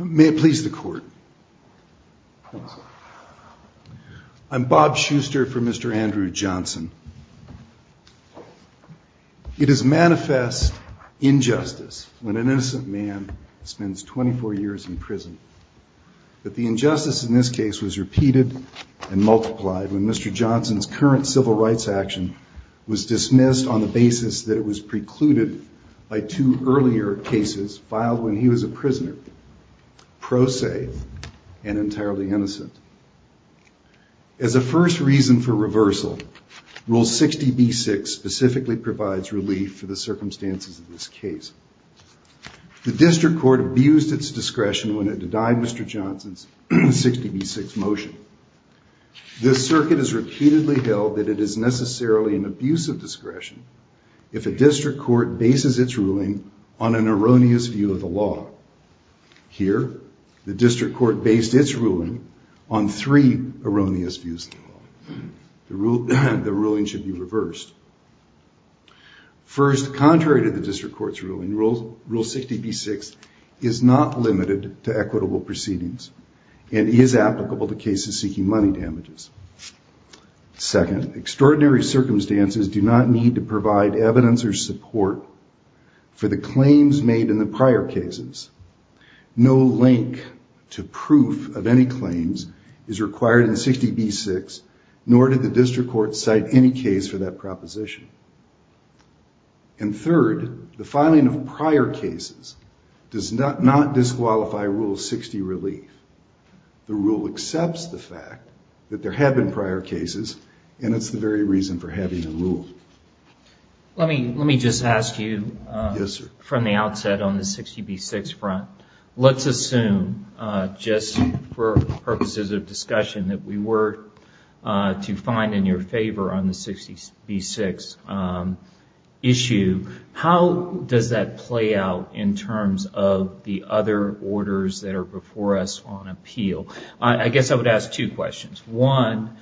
May it please the court. I'm Bob Schuster for Mr. Andrew Johnson. It is manifest injustice when an innocent man spends 24 years in prison. But the injustice in this case was repeated and multiplied when Mr. Johnson's current civil rights action was dismissed on the basis that it was precluded by two earlier cases filed when he was a prisoner, pro se, and entirely innocent. As a first reason for reversal, Rule 60B6 specifically provides relief for the circumstances of this case. The district court abused its discretion when it denied Mr. Johnson's 60B6 motion. This circuit has repeatedly held that it is necessarily an abuse of discretion if a district court bases its ruling on an erroneous view of the law. Here, the district court based its ruling on three erroneous views of the law. The ruling should be reversed. First, contrary to the district court's ruling, Rule 60B6 is not limited to equitable proceedings and is applicable to cases seeking money damages. Second, extraordinary circumstances do not need to provide evidence or support for the claims made in the prior cases. No link to proof of any claims is required in 60B6, nor did the district court cite any case for that proposition. And third, the filing of prior cases does not disqualify Rule 60 relief. The rule accepts the fact that there have been prior cases, and it's the very reason for having a rule. Let me just ask you from the outset on the 60B6 front. Let's assume, just for purposes of discussion, that we were to find in your favor on the 60B6 issue. How does that play out in terms of the other orders that are before us on appeal? I guess I would ask two questions. One,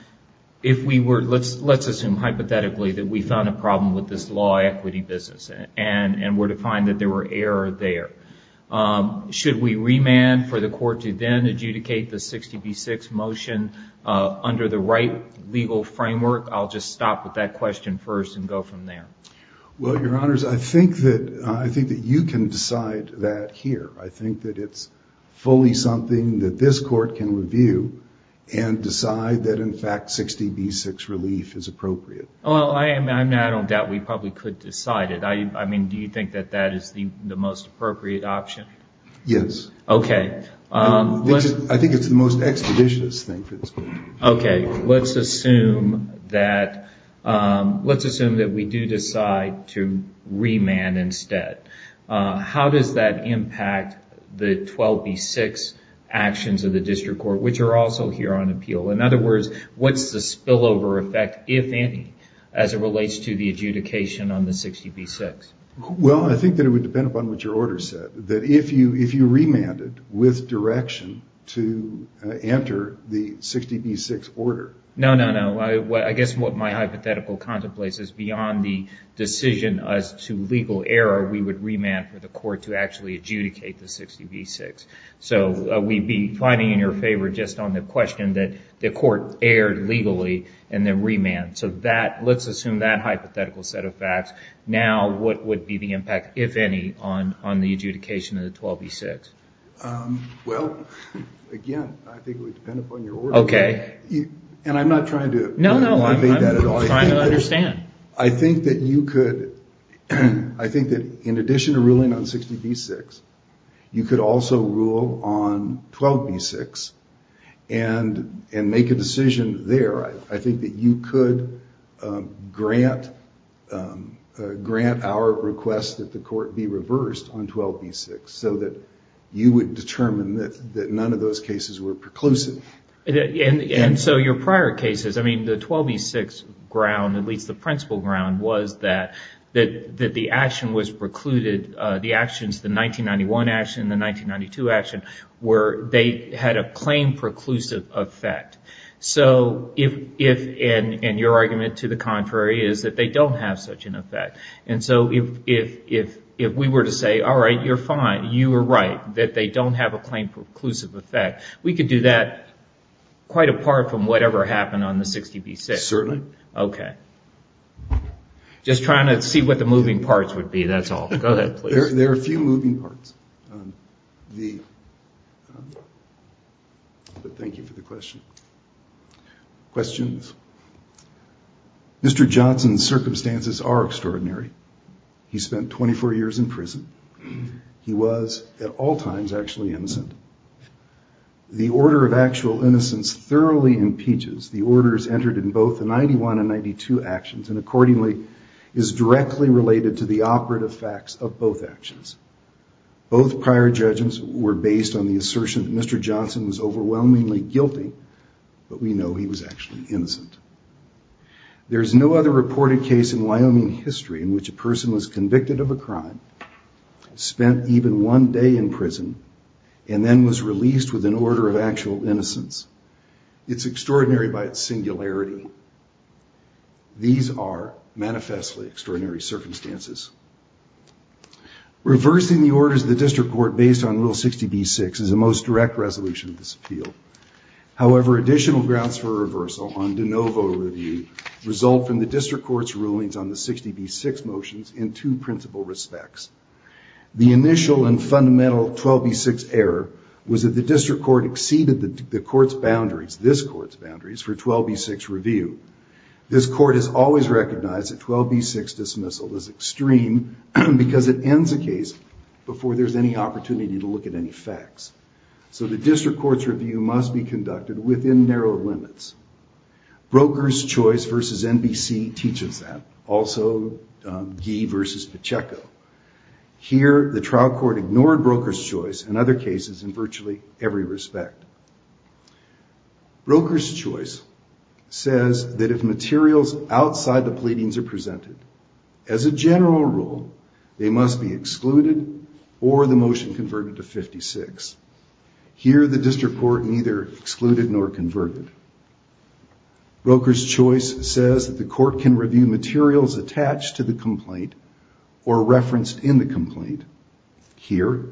let's assume hypothetically that we found a problem with this law equity business and were to find that there were errors there. Should we remand for the court to then adjudicate the 60B6 motion under the right legal framework? I'll just stop with that question first and go from there. Well, your honors, I think that you can decide that here. I think that it's fully something that this court can review and decide that, in fact, 60B6 relief is appropriate. Well, I don't doubt we probably could decide it. I mean, do you think that that is the most appropriate option? Yes. Okay. I think it's the most expeditious thing for this court. Okay. Let's assume that we do decide to remand instead. How does that impact the 12B6 actions of the district court, which are also here on appeal? In other words, what's the spillover effect, if any, as it relates to the adjudication on the 60B6? Well, I think that it would depend upon what your order said, that if you remanded with direction to enter the 60B6 order. No, no, no. I guess what my hypothetical contemplates is beyond the decision as to legal error, we would remand for the court to actually adjudicate the 60B6. So we'd be fighting in your favor just on the question that the court erred legally and then remanded. So let's assume that hypothetical set of facts. Now, what would be the impact, if any, on the adjudication of the 12B6? Well, again, I think it would depend upon your order. Okay. And I'm not trying to- No, no. I'm trying to understand. I think that you could... I think that in addition to ruling on 60B6, you could also rule on 12B6 and make a decision there. I think that you could grant our request that the court be reversed on 12B6 so that you would determine that none of those cases were preclusive. And so your prior cases, I mean, the 12B6 ground, at least the principal ground, was that the action was precluded, the actions, the 1991 action and the 1992 action, where they had a claim-preclusive effect. And your argument to the contrary is that they don't have such an effect. And so if we were to say, all right, you're fine, you were right, that they don't have a claim-preclusive effect, we could do that quite apart from whatever happened on the 60B6. Certainly. Okay. Just trying to see what the moving parts would be, that's all. Go ahead, please. There are a few moving parts. But thank you for the question. Questions? Mr. Johnson's circumstances are extraordinary. He spent 24 years in prison. He was, at all times, actually innocent. The order of actual innocence thoroughly impeaches the orders entered in both the 91 and 92 actions and, accordingly, is directly related to the operative facts of both actions. Both prior judgments were based on the assertion that Mr. Johnson was overwhelmingly guilty, but we know he was actually innocent. There's no other reported case in Wyoming history in which a person was convicted of a crime, spent even one day in prison, and then was released with an order of actual innocence. It's extraordinary by its singularity. These are manifestly extraordinary circumstances. Reversing the orders of the district court based on Rule 60B6 is the most direct resolution of this appeal. However, additional grounds for reversal on de novo review result from the district court's rulings on the 60B6 motions in two principal respects. The initial and fundamental 12B6 error was that the district court exceeded the court's boundaries, this court's boundaries, for 12B6 review. This court has always recognized that 12B6 dismissal is extreme because it ends a case before there's any opportunity to look at any facts. So the district court's review must be conducted within narrow limits. Brokers' Choice v. NBC teaches that. Also, Gee v. Pacheco. Here, the trial court ignored Brokers' Choice in other cases in virtually every respect. Brokers' Choice says that if materials outside the pleadings are presented, as a general rule, they must be excluded or the motion converted to 56. Here, the district court neither excluded nor converted. Brokers' Choice says that the court can review materials attached to the complaint or referenced in the complaint. Here,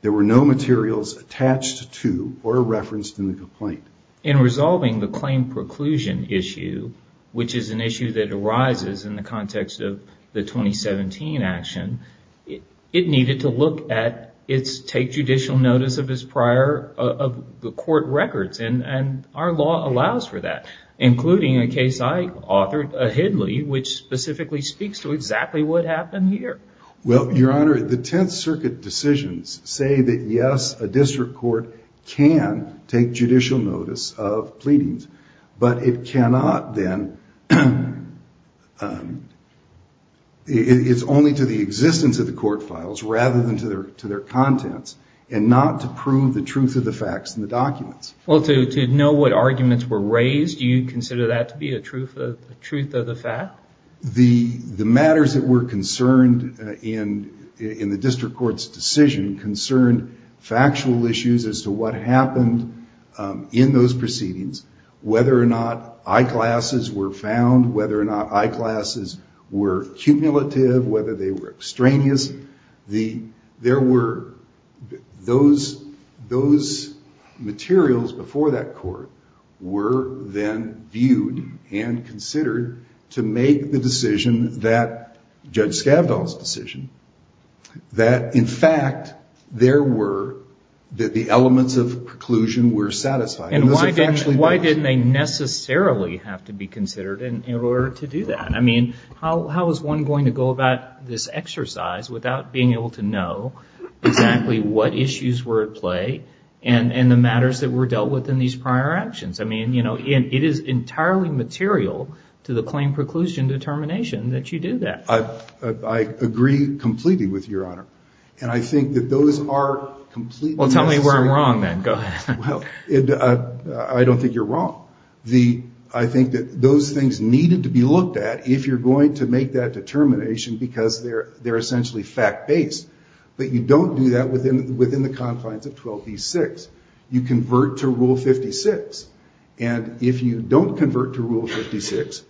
there were no materials attached to or referenced in the complaint. In resolving the claim preclusion issue, which is an issue that arises in the context of the 2017 action, it needed to look at its take judicial notice of its prior court records and our law allows for that, including a case I authored, a Hidley, which specifically speaks to exactly what happened here. Well, Your Honor, the Tenth Circuit decisions say that yes, a district court can take judicial notice of pleadings, but it cannot then, it's only to the existence of the court files rather than to their contents and not to prove the case. To know what arguments were raised, you consider that to be a truth of the fact? The matters that were concerned in the district court's decision concerned factual issues as to what happened in those proceedings, whether or not I-classes were found, whether or not I-classes were cumulative, whether they were extraneous. There were those materials before that court were then viewed and considered to make the decision that Judge Scavdahl's decision, that in fact, there were, that the elements of preclusion were satisfied. Why didn't they necessarily have to be considered in order to do that? I mean, how is one going to go about this exercise without being able to know exactly what issues were at play and the matters that were dealt with in these prior actions? I mean, you know, it is entirely material to the claim preclusion determination that you do that. I agree completely with Your Honor, and I think that those are completely necessary. Well, tell me where I'm wrong then. Go ahead. I don't think you're wrong. I think that those things needed to be looked at if you're going to make that determination because they're essentially fact-based, but you don't do that within the confines of 12b-6. You convert to Rule 56, and if you don't convert to Rule 56,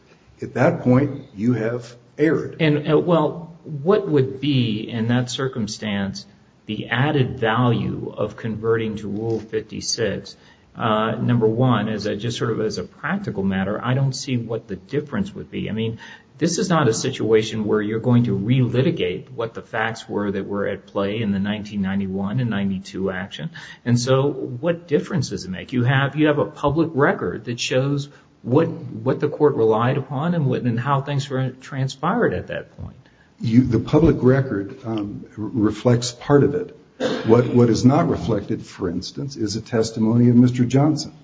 at that point, you have erred. Well, what would be, in that circumstance, the added value of converting to Rule 56? Number one, just sort of as a practical matter, I don't see what the difference would be. I mean, this is not a situation where you're going to relitigate what the facts were that were at play in the 1991 and 92 action, and so what difference does it make? You have a public record that shows what the court relied upon and how things transpired at that point. The public record reflects part of it. What is not reflected, for instance, is a testimony of Mr. Johnson.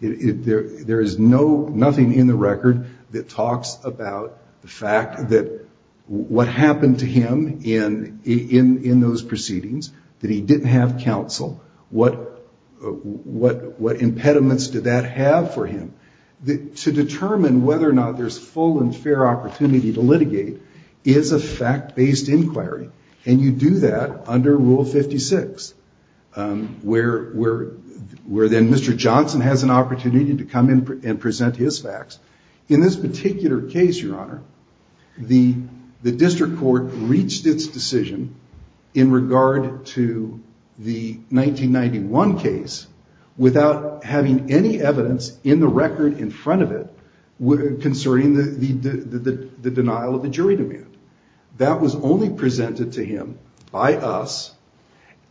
There is nothing in the record that talks about the fact that what happened to him in those proceedings, that he didn't have counsel. What impediments did that have for him? To determine whether or not there's full and fair opportunity to litigate is a fact-based inquiry, and you do that under Rule 56, where then Mr. Johnson has an opportunity to come in and present his facts. In this particular case, Your Honor, the district court reached its decision in regard to the 1991 case without having any evidence in the record in front of it concerning the denial of the jury demand. That was only presented to him by us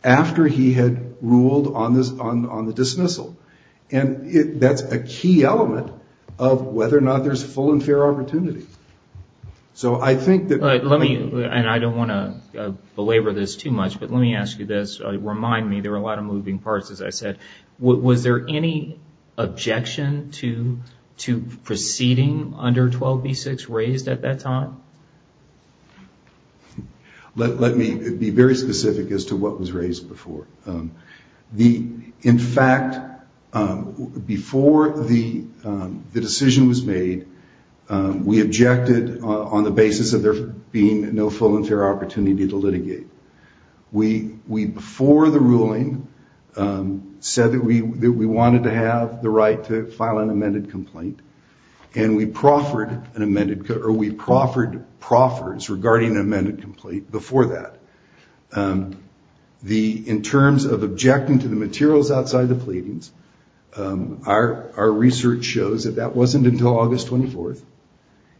after he had ruled on the dismissal, and that's a key element of whether or not there's full and fair opportunity. I don't want to belabor this too much, but let me ask you this. Remind me, there were a lot of moving parts, as I said. Was there any objection to proceeding under 12B6 raised at that time? Let me be very specific as to what was raised before. In fact, before the decision was made, we objected on the basis of there being no full and fair opportunity to litigate. We before the ruling said that we wanted to have the right to file an amended complaint, and we proffered proffers regarding an amended complaint before that. In terms of objecting to the materials outside the pleadings, our research shows that that wasn't until August 24th,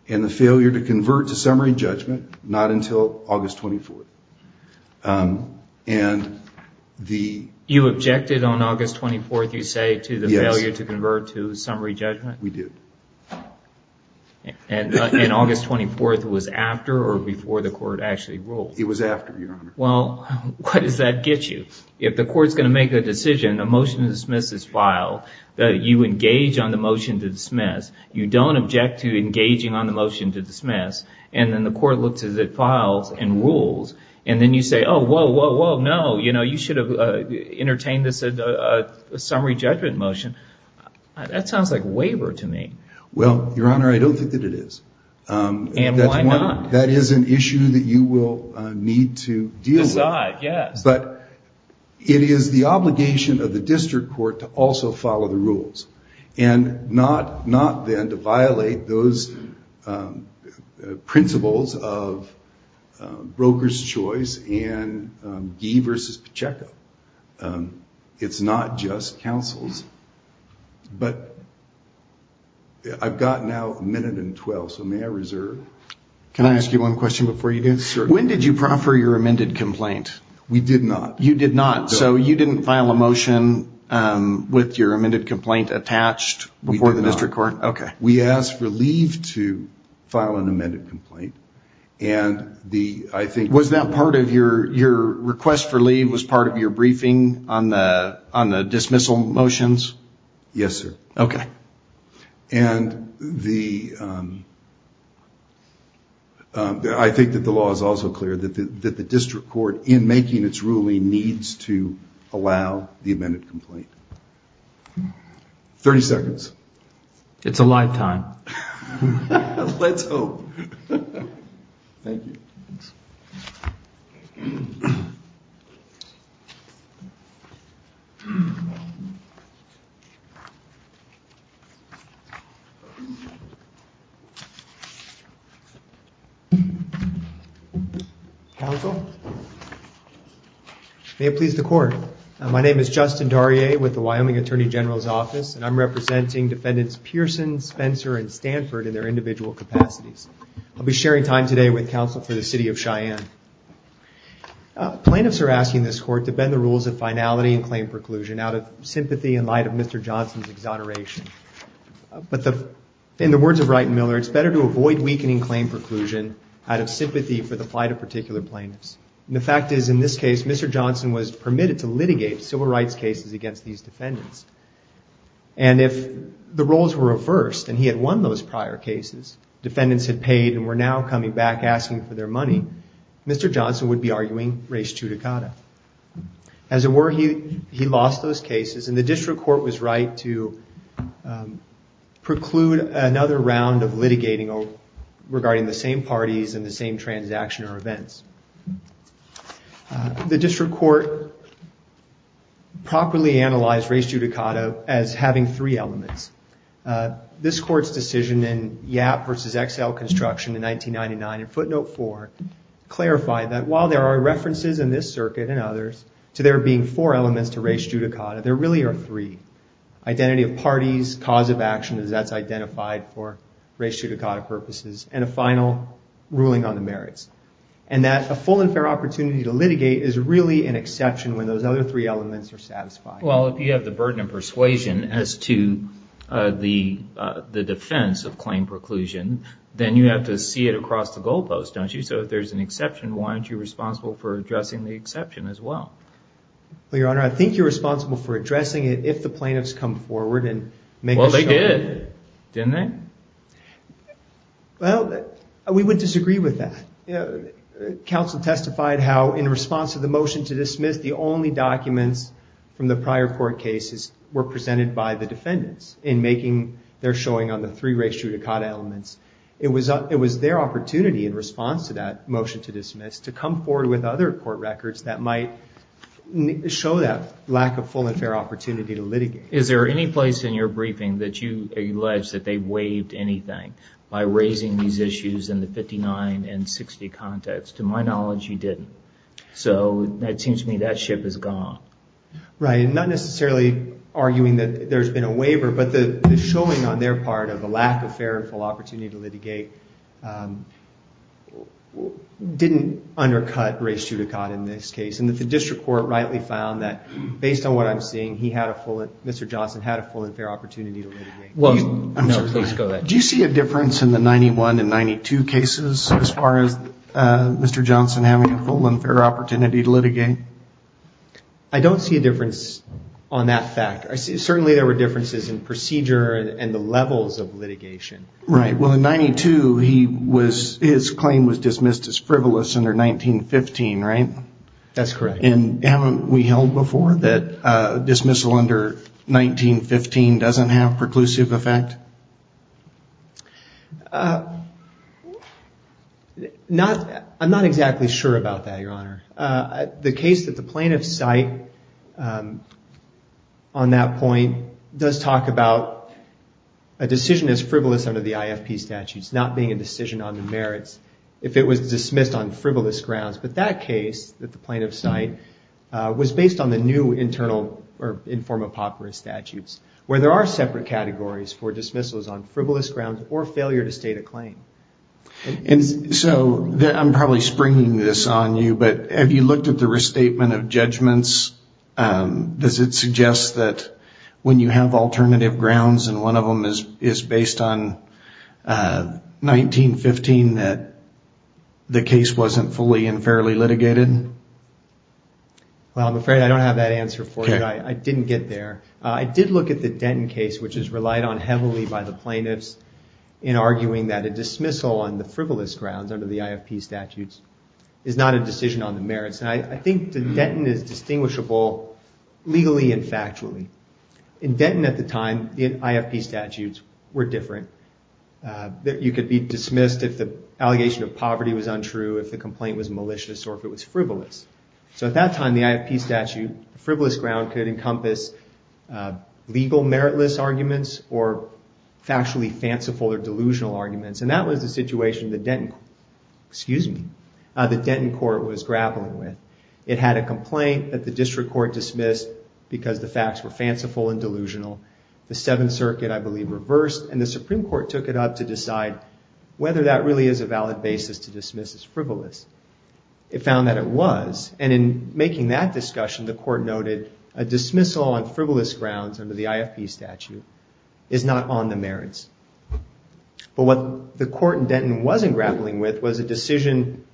and the failure to convert to summary judgment, not until August 24th. You objected on August 24th, you say, to the failure to convert to summary judgment? We did. And August 24th was after or before the court actually ruled? It was after, Your Honor. Well, what does that get you? If the court's going to make a decision, a motion to dismiss is filed, you engage on the motion to dismiss, you don't object to engaging on the motion to dismiss, and then the court looks at the files and rules, and then you say, oh, whoa, whoa, no, you should have entertained this summary judgment motion. That sounds like waiver to me. Well, Your Honor, I don't think that it is. And why not? That is an issue that you will need to deal with. Besides, yes. But it is the obligation of the district court to also follow the rules, and not then to give a checkup. It's not just counsels. But I've got now a minute and 12, so may I reserve? Can I ask you one question before you do? Sure. When did you proffer your amended complaint? We did not. You did not. So you didn't file a motion with your amended complaint attached before the district court? We did not. We asked for leave to file an amended complaint, and I think... Your request for leave was part of your briefing on the dismissal motions? Yes, sir. And I think that the law is also clear that the district court, in making its ruling, needs to allow the amended complaint. Thirty seconds. It's a live time. Let's hope. Thank you. Counsel? May it please the court. My name is Justin Darrier with the Wyoming Attorney General's Office, and I'm representing defendants Pearson, Spencer, and Stanford in their individual capacities. I'll be sharing time today with counsel for the city of Cheyenne. Plaintiffs are asking this court to bend the rules of finality and claim preclusion out of sympathy in light of Mr. Johnson's exoneration. But in the words of Wright and Miller, it's better to avoid weakening claim preclusion out of sympathy for the plight of particular plaintiffs. And the fact is, in this case, Mr. Johnson was permitted to litigate civil defendants. And if the roles were reversed, and he had won those prior cases, defendants had paid and were now coming back asking for their money, Mr. Johnson would be arguing res judicata. As it were, he lost those cases, and the district court was right to preclude another round of litigating regarding the same parties and the same transaction or events. The district court properly analyzed res judicata as having three elements. This court's decision in Yap versus XL construction in 1999 in footnote four clarified that while there are references in this circuit and others to there being four elements to res judicata, there really are three. Identity of parties, cause of action, as that's identified for res judicata purposes, and a final ruling on the merits. And that a full and fair opportunity to litigate is really an exception when those other three elements are satisfied. Well, if you have the burden of persuasion as to the defense of claim preclusion, then you have to see it across the goalpost, don't you? So if there's an exception, why aren't you responsible for addressing the exception as well? Well, Your Honor, I think you're responsible for addressing it if the plaintiffs come forward and make a show of it. They did, didn't they? Well, we would disagree with that. Council testified how in response to the motion to dismiss, the only documents from the prior court cases were presented by the defendants in making their showing on the three res judicata elements. It was their opportunity in response to that motion to dismiss to come forward with other court records that might show that lack of full and fair opportunity to litigate. Is there any place in your briefing that you allege that they waived anything by raising these issues in the 59 and 60 context? To my knowledge, you didn't. So it seems to me that ship is gone. Right. And not necessarily arguing that there's been a waiver, but the showing on their part of the lack of fair and full opportunity to litigate didn't undercut res judicata in this case. And that the district court rightly found that based on what I'm seeing, he had a full, Mr. Johnson had a full and fair opportunity to litigate. Well, I'm sorry. No, please go ahead. Do you see a difference in the 91 and 92 cases as far as Mr. Johnson having a full and fair opportunity to litigate? I don't see a difference on that fact. I see, certainly there were differences in procedure and the levels of litigation. Right. Well, in 92, he was, his claim was dismissed as frivolous under 1915, right? That's correct. And haven't we held before that dismissal under 1915 doesn't have preclusive effect? I'm not exactly sure about that, Your Honor. The case that the plaintiff cite on that point does talk about a decision as frivolous under the IFP statutes, not being a decision on merits, if it was dismissed on frivolous grounds. But that case that the plaintiff cite was based on the new internal or informal papyrus statutes, where there are separate categories for dismissals on frivolous grounds or failure to state a claim. And so I'm probably springing this on you, but have you looked at the restatement of judgments? Does it suggest that when you have alternative grounds and one of them is based on 1915, that the case wasn't fully and fairly litigated? Well, I'm afraid I don't have that answer for you. I didn't get there. I did look at the Denton case, which is relied on heavily by the plaintiffs in arguing that a dismissal on the frivolous grounds under the IFP statutes is not a decision on the merits. And I think the Denton is distinguishable legally and factually. In Denton at the time, the IFP statutes were different. You could be dismissed if the allegation of poverty was untrue, if the complaint was malicious, or if it was frivolous. So at that time, the IFP statute, frivolous ground could encompass legal meritless arguments or factually fanciful or delusional arguments. And that was the situation the Denton court was grappling with. It had a complaint that the district court dismissed because the facts were fanciful and delusional. The Seventh Circuit, I believe, reversed and the Supreme Court took it up to decide whether that really is a valid basis to dismiss as frivolous. It found that it was. And in making that discussion, the court noted a dismissal on frivolous grounds under the IFP statute is not on the merits. But what the court in Denton wasn't grappling with was a decision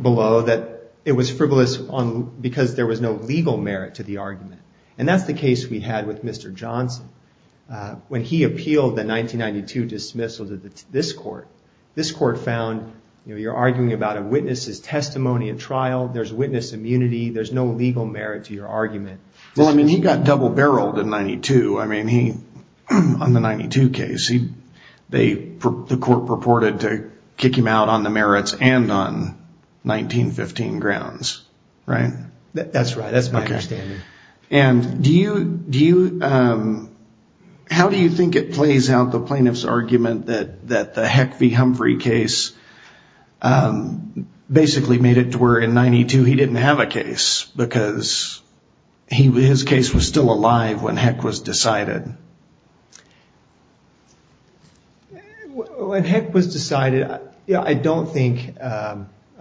below that it was frivolous because there was no legal merit to the argument. And that's the case we had with Mr. Johnson. When he appealed the 1992 dismissal to this court, this court found, you know, you're arguing about a witness's testimony at trial. There's witness immunity. There's no legal merit to your argument. Well, I mean, he got double-barreled in 92. I mean, he, on the 92 case, he, they, the court purported to kick him out on the merits and on 1915 grounds, right? That's right. That's my understanding. And do you, do you, how do you think it plays out the plaintiff's argument that, that the Heck v. Humphrey case basically made it to where in 92, he didn't have a case because he, his case was still alive when Heck was decided? When Heck was decided, I don't think, I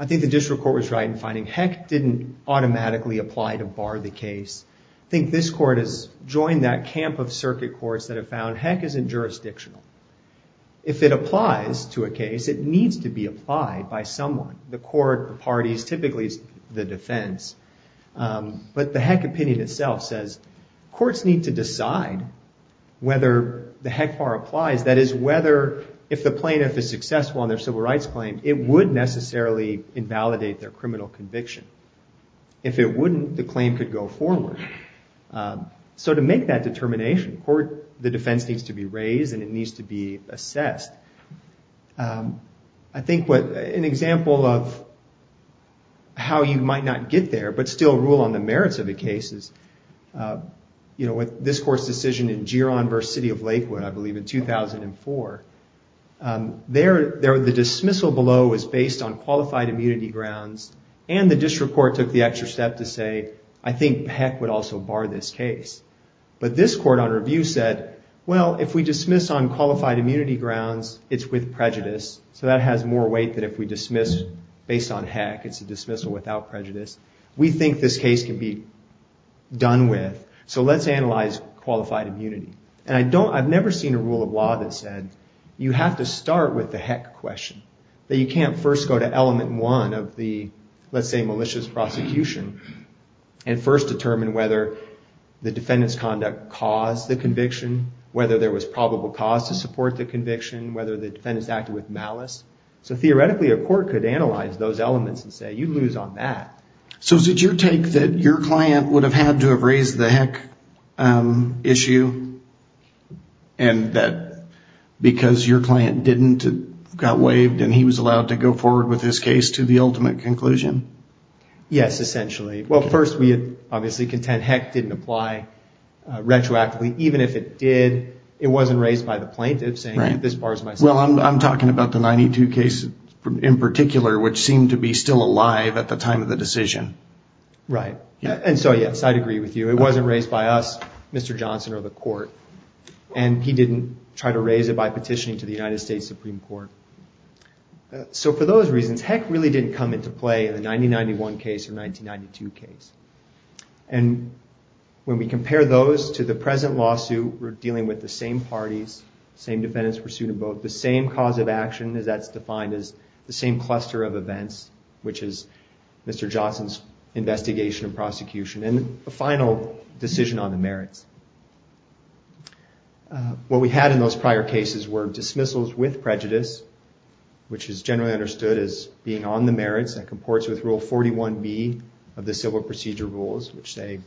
think the district court was right in finding Heck didn't automatically apply to bar the case. I think this court has joined that camp of circuit courts that have found Heck isn't jurisdictional. If it applies to a case, it needs to be applied by someone. The court, the parties, typically it's the defense, but the Heck opinion itself says courts need to decide whether the Heck bar applies. That is whether, if the plaintiff is successful on their civil rights claim, it would necessarily invalidate their criminal conviction. If it wouldn't, the claim could go forward. So to make that determination, the court, the defense needs to be raised and it needs to be assessed. I think what, an example of how you might not get there, but still rule on the merits of the cases, you know, with this court's decision in Giron versus City of Lakewood, I believe in 2004, there, the dismissal below is based on qualified immunity grounds. And the district court took the extra step to say, I think Heck would also bar this case. But this court on review said, well, if we dismiss on qualified immunity grounds, it's with prejudice. So that has more weight than if we dismiss based on Heck, it's a dismissal without prejudice. We think this case can be done with, so let's analyze qualified immunity. And I don't, I've never seen a rule of law that said, you have to start with the Heck question, that you can't first go to element one of the, let's say, malicious prosecution and first determine whether the defendant's conduct caused the conviction, whether there was probable cause to support the conviction, whether the defendant's acted with malice. So theoretically, a court could analyze those elements and say, you lose on that. So is it your take that your client would have had to have raised the Heck issue? And that because your client didn't, it got waived and he was allowed to go forward with his case to the ultimate conclusion? Yes, essentially. Well, first, we obviously contend Heck didn't apply retroactively, even if it did, it wasn't raised by the plaintiff saying, this bars my case. Well, I'm talking about the 92 case in particular, which seemed to be still alive at the time of the decision. Right. And so, yes, I'd agree with you. It wasn't raised by us, Mr. Johnson or the court. And he didn't try to raise it by petitioning to the United States Supreme Court. So for those reasons, Heck really didn't come into play in the 1991 case or 1992 case. And when we compare those to the present lawsuit, we're dealing with the same parties, same defendants pursued in both, the same cause of action as that's Mr. Johnson's investigation and prosecution and the final decision on the merits. What we had in those prior cases were dismissals with prejudice, which is generally understood as being on the merits that comports with rule 41B of the civil procedure rules, which say...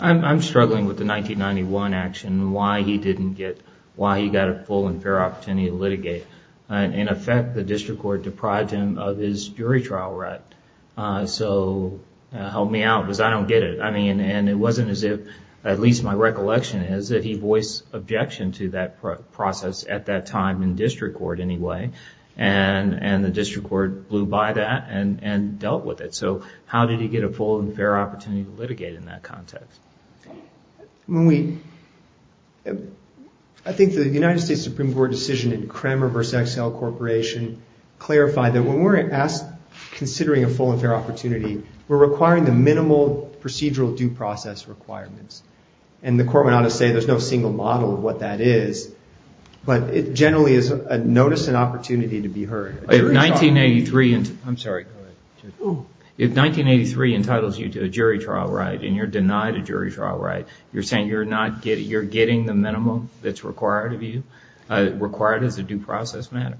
I'm struggling with the 1991 action, why he didn't get, why he got a full and fair opportunity to litigate. In effect, the district court deprived him of his jury trial right. So help me out because I don't get it. I mean, and it wasn't as if, at least my recollection is that he voiced objection to that process at that time in district court anyway, and the district court blew by that and dealt with it. So how did he get a full and fair opportunity to litigate in that context? I think the United States Supreme Court decision in Kramer v. XL Corporation clarified that when we're asked, considering a full and fair opportunity, we're requiring the minimal procedural due process requirements. And the court went on to say, there's no single model of what that is, but it generally is a notice and opportunity to be heard. If 1983 entitles you to a jury trial right, and you're denied a jury trial right, you're saying you're not getting, you're getting the minimum that's required of the matter.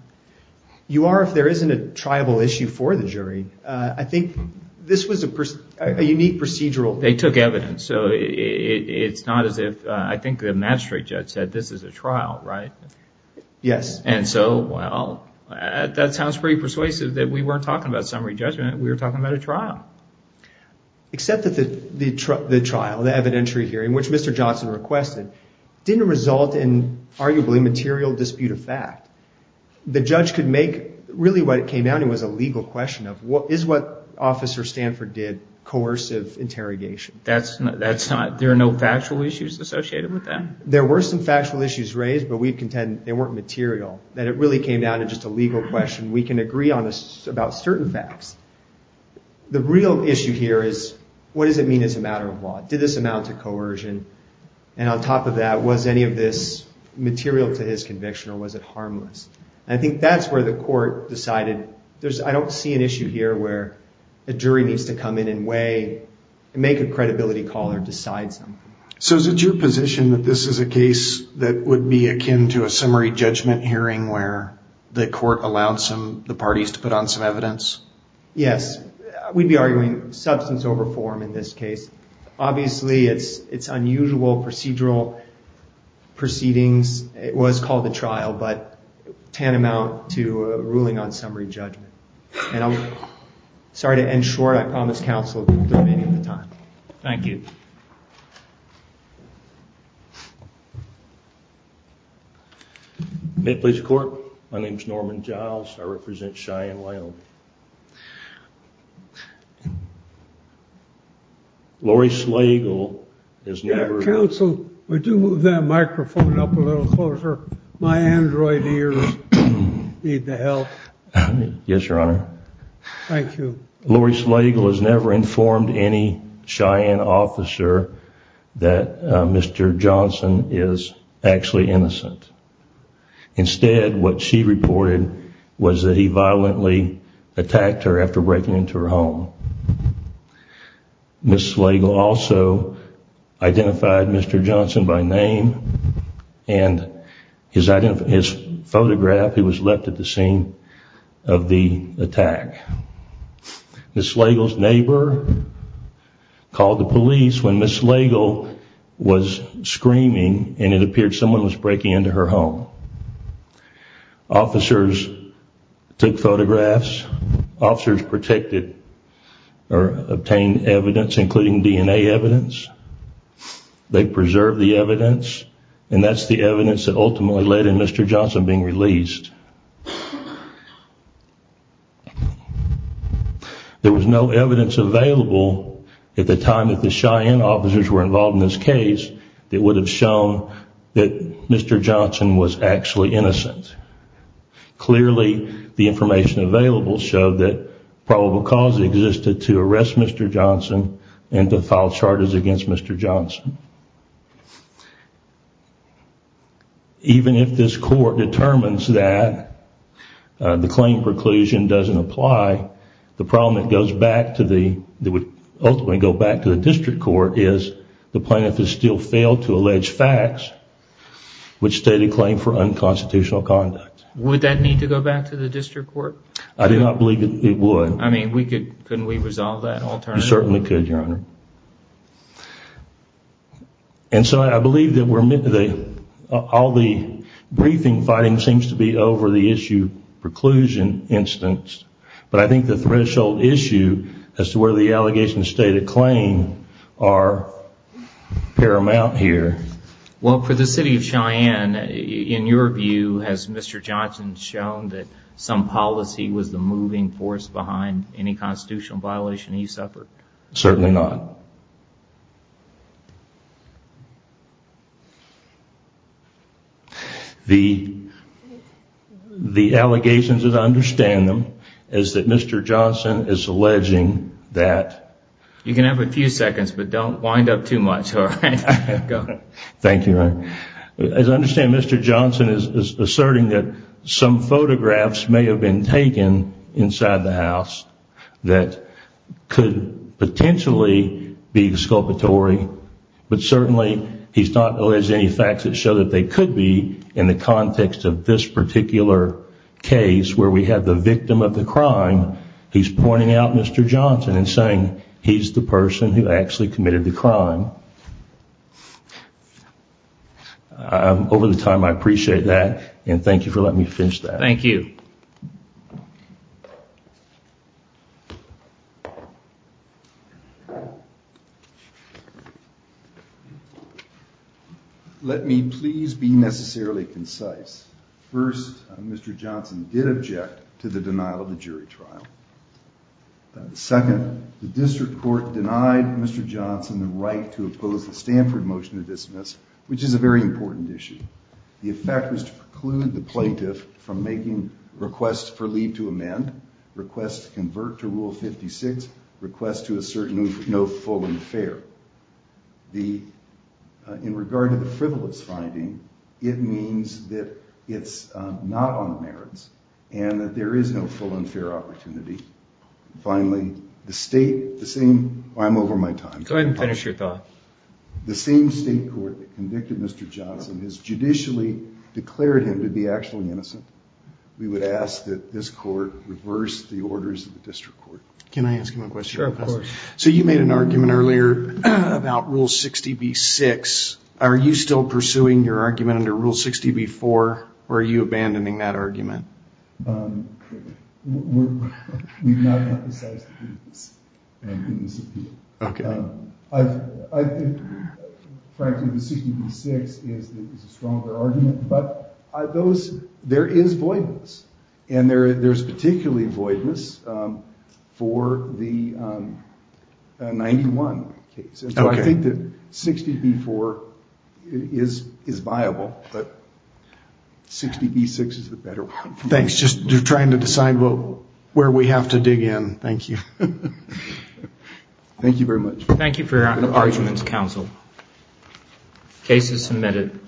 You are if there isn't a triable issue for the jury. I think this was a unique procedural. They took evidence. So it's not as if, I think the magistrate judge said this is a trial, right? Yes. And so, well, that sounds pretty persuasive that we weren't talking about summary judgment. We were talking about a trial. Except that the trial, the evidentiary hearing, which Mr. Johnson requested, didn't result in arguably material dispute of fact. The judge could make, really what it came down to was a legal question of what is what Officer Stanford did, coercive interrogation. That's not, that's not, there are no factual issues associated with that? There were some factual issues raised, but we contend they weren't material, that it really came down to just a legal question. We can agree on this about certain facts. The real issue here is, what does it mean as a matter of law? Did this amount to coercion? And on top of that, was any of this material to his conviction or was it just a matter of fact? And I think that's where the court decided, there's, I don't see an issue here where a jury needs to come in and weigh, make a credibility call or decide something. So is it your position that this is a case that would be akin to a summary judgment hearing where the court allowed some, the parties to put on some evidence? Yes. We'd be arguing substance over form in this case. Obviously, it's, it's unusual procedural proceedings. It was called a trial, but tantamount to a ruling on summary judgment. And I'm sorry to end short. I promise counsel, we'll do it at the time. Thank you. May it please the court. My name's Norman Giles. I represent Cheyenne, Wyoming. Lori Slagle is never... Would you move that microphone up a little closer? My Android ears need the help. Yes, Your Honor. Thank you. Lori Slagle has never informed any Cheyenne officer that Mr. Johnson is actually innocent. Instead, what she reported was that he violently attacked her after breaking into her home. Ms. Slagle also identified Mr. Johnson by name and his photograph. He was left at the scene of the attack. Ms. Slagle's neighbor called the police when Ms. Slagle was screaming and it appeared someone was breaking into her home. Officers took photographs. Officers protected or obtained evidence, including DNA evidence. They preserved the evidence and that's the evidence that ultimately led in Mr. Johnson being released. There was no evidence available at the time that the Cheyenne officers were involved in this case that would have shown that Mr. Johnson was actually innocent. Clearly, the information available showed that probable cause existed to arrest Mr. Johnson and to file charges against Mr. Johnson. Even if this court determines that the claim preclusion doesn't apply, the problem that goes back to the, that would ultimately go back to the district court is the plaintiff has still failed to allege facts which state a claim for unconstitutional conduct. Would that need to go back to the district court? I do not believe that it would. I mean, we could, couldn't we resolve that alternatively? You certainly could, Your Honor. And so I believe that we're, all the briefing fighting seems to be over the issue preclusion instance, but I think the threshold issue as to where the allegations state a claim are paramount here. Well, for the city of Cheyenne, in your view, has Mr. Johnson shown that some policy was the moving force behind any constitutional violation he suffered? Certainly not. The, the allegations as I understand them is that Mr. Johnson is alleging that... You can have a few seconds, but don't wind up too much. All right, go ahead. Thank you, Your Honor. As I understand, Mr. Johnson is asserting that some photographs may have been taken inside the house that could potentially be exculpatory, but certainly he's not alleged any facts that show that they could be in the context of this particular case where we had the victim of the crime, he's pointing out Mr. Johnson and saying he's the person who actually committed the crime. Over the time, I appreciate that. And thank you for letting me finish that. Thank you. Let me please be necessarily concise. First, Mr. Johnson did object to the denial of the jury trial. Second, the district court denied Mr. Johnson's dismissal, which is a very important issue. The effect was to preclude the plaintiff from making requests for leave to amend, requests to convert to rule 56, requests to assert no full and fair. The, in regard to the frivolous finding, it means that it's not on the merits and that there is no full and fair opportunity. Finally, the state, the same, I'm over my time. Go ahead and finish your thought. The same state court that convicted Mr. Johnson has judicially declared him to be actually innocent. We would ask that this court reverse the orders of the district court. Can I ask him a question? So you made an argument earlier about rule 60B-6. Are you still pursuing your argument under rule 60B-4 or are you abandoning that argument? We've not emphasized the goodness of people. I think, frankly, the 60B-6 is a stronger argument, but those, there is voidness and there's particularly voidness for the 91 case, so I think that 60B-4 is viable, but 60B-6 is the better one. Thanks. Just trying to decide where we have to dig in. Thank you. Thank you very much. Thank you for your argument, counsel. Case is submitted.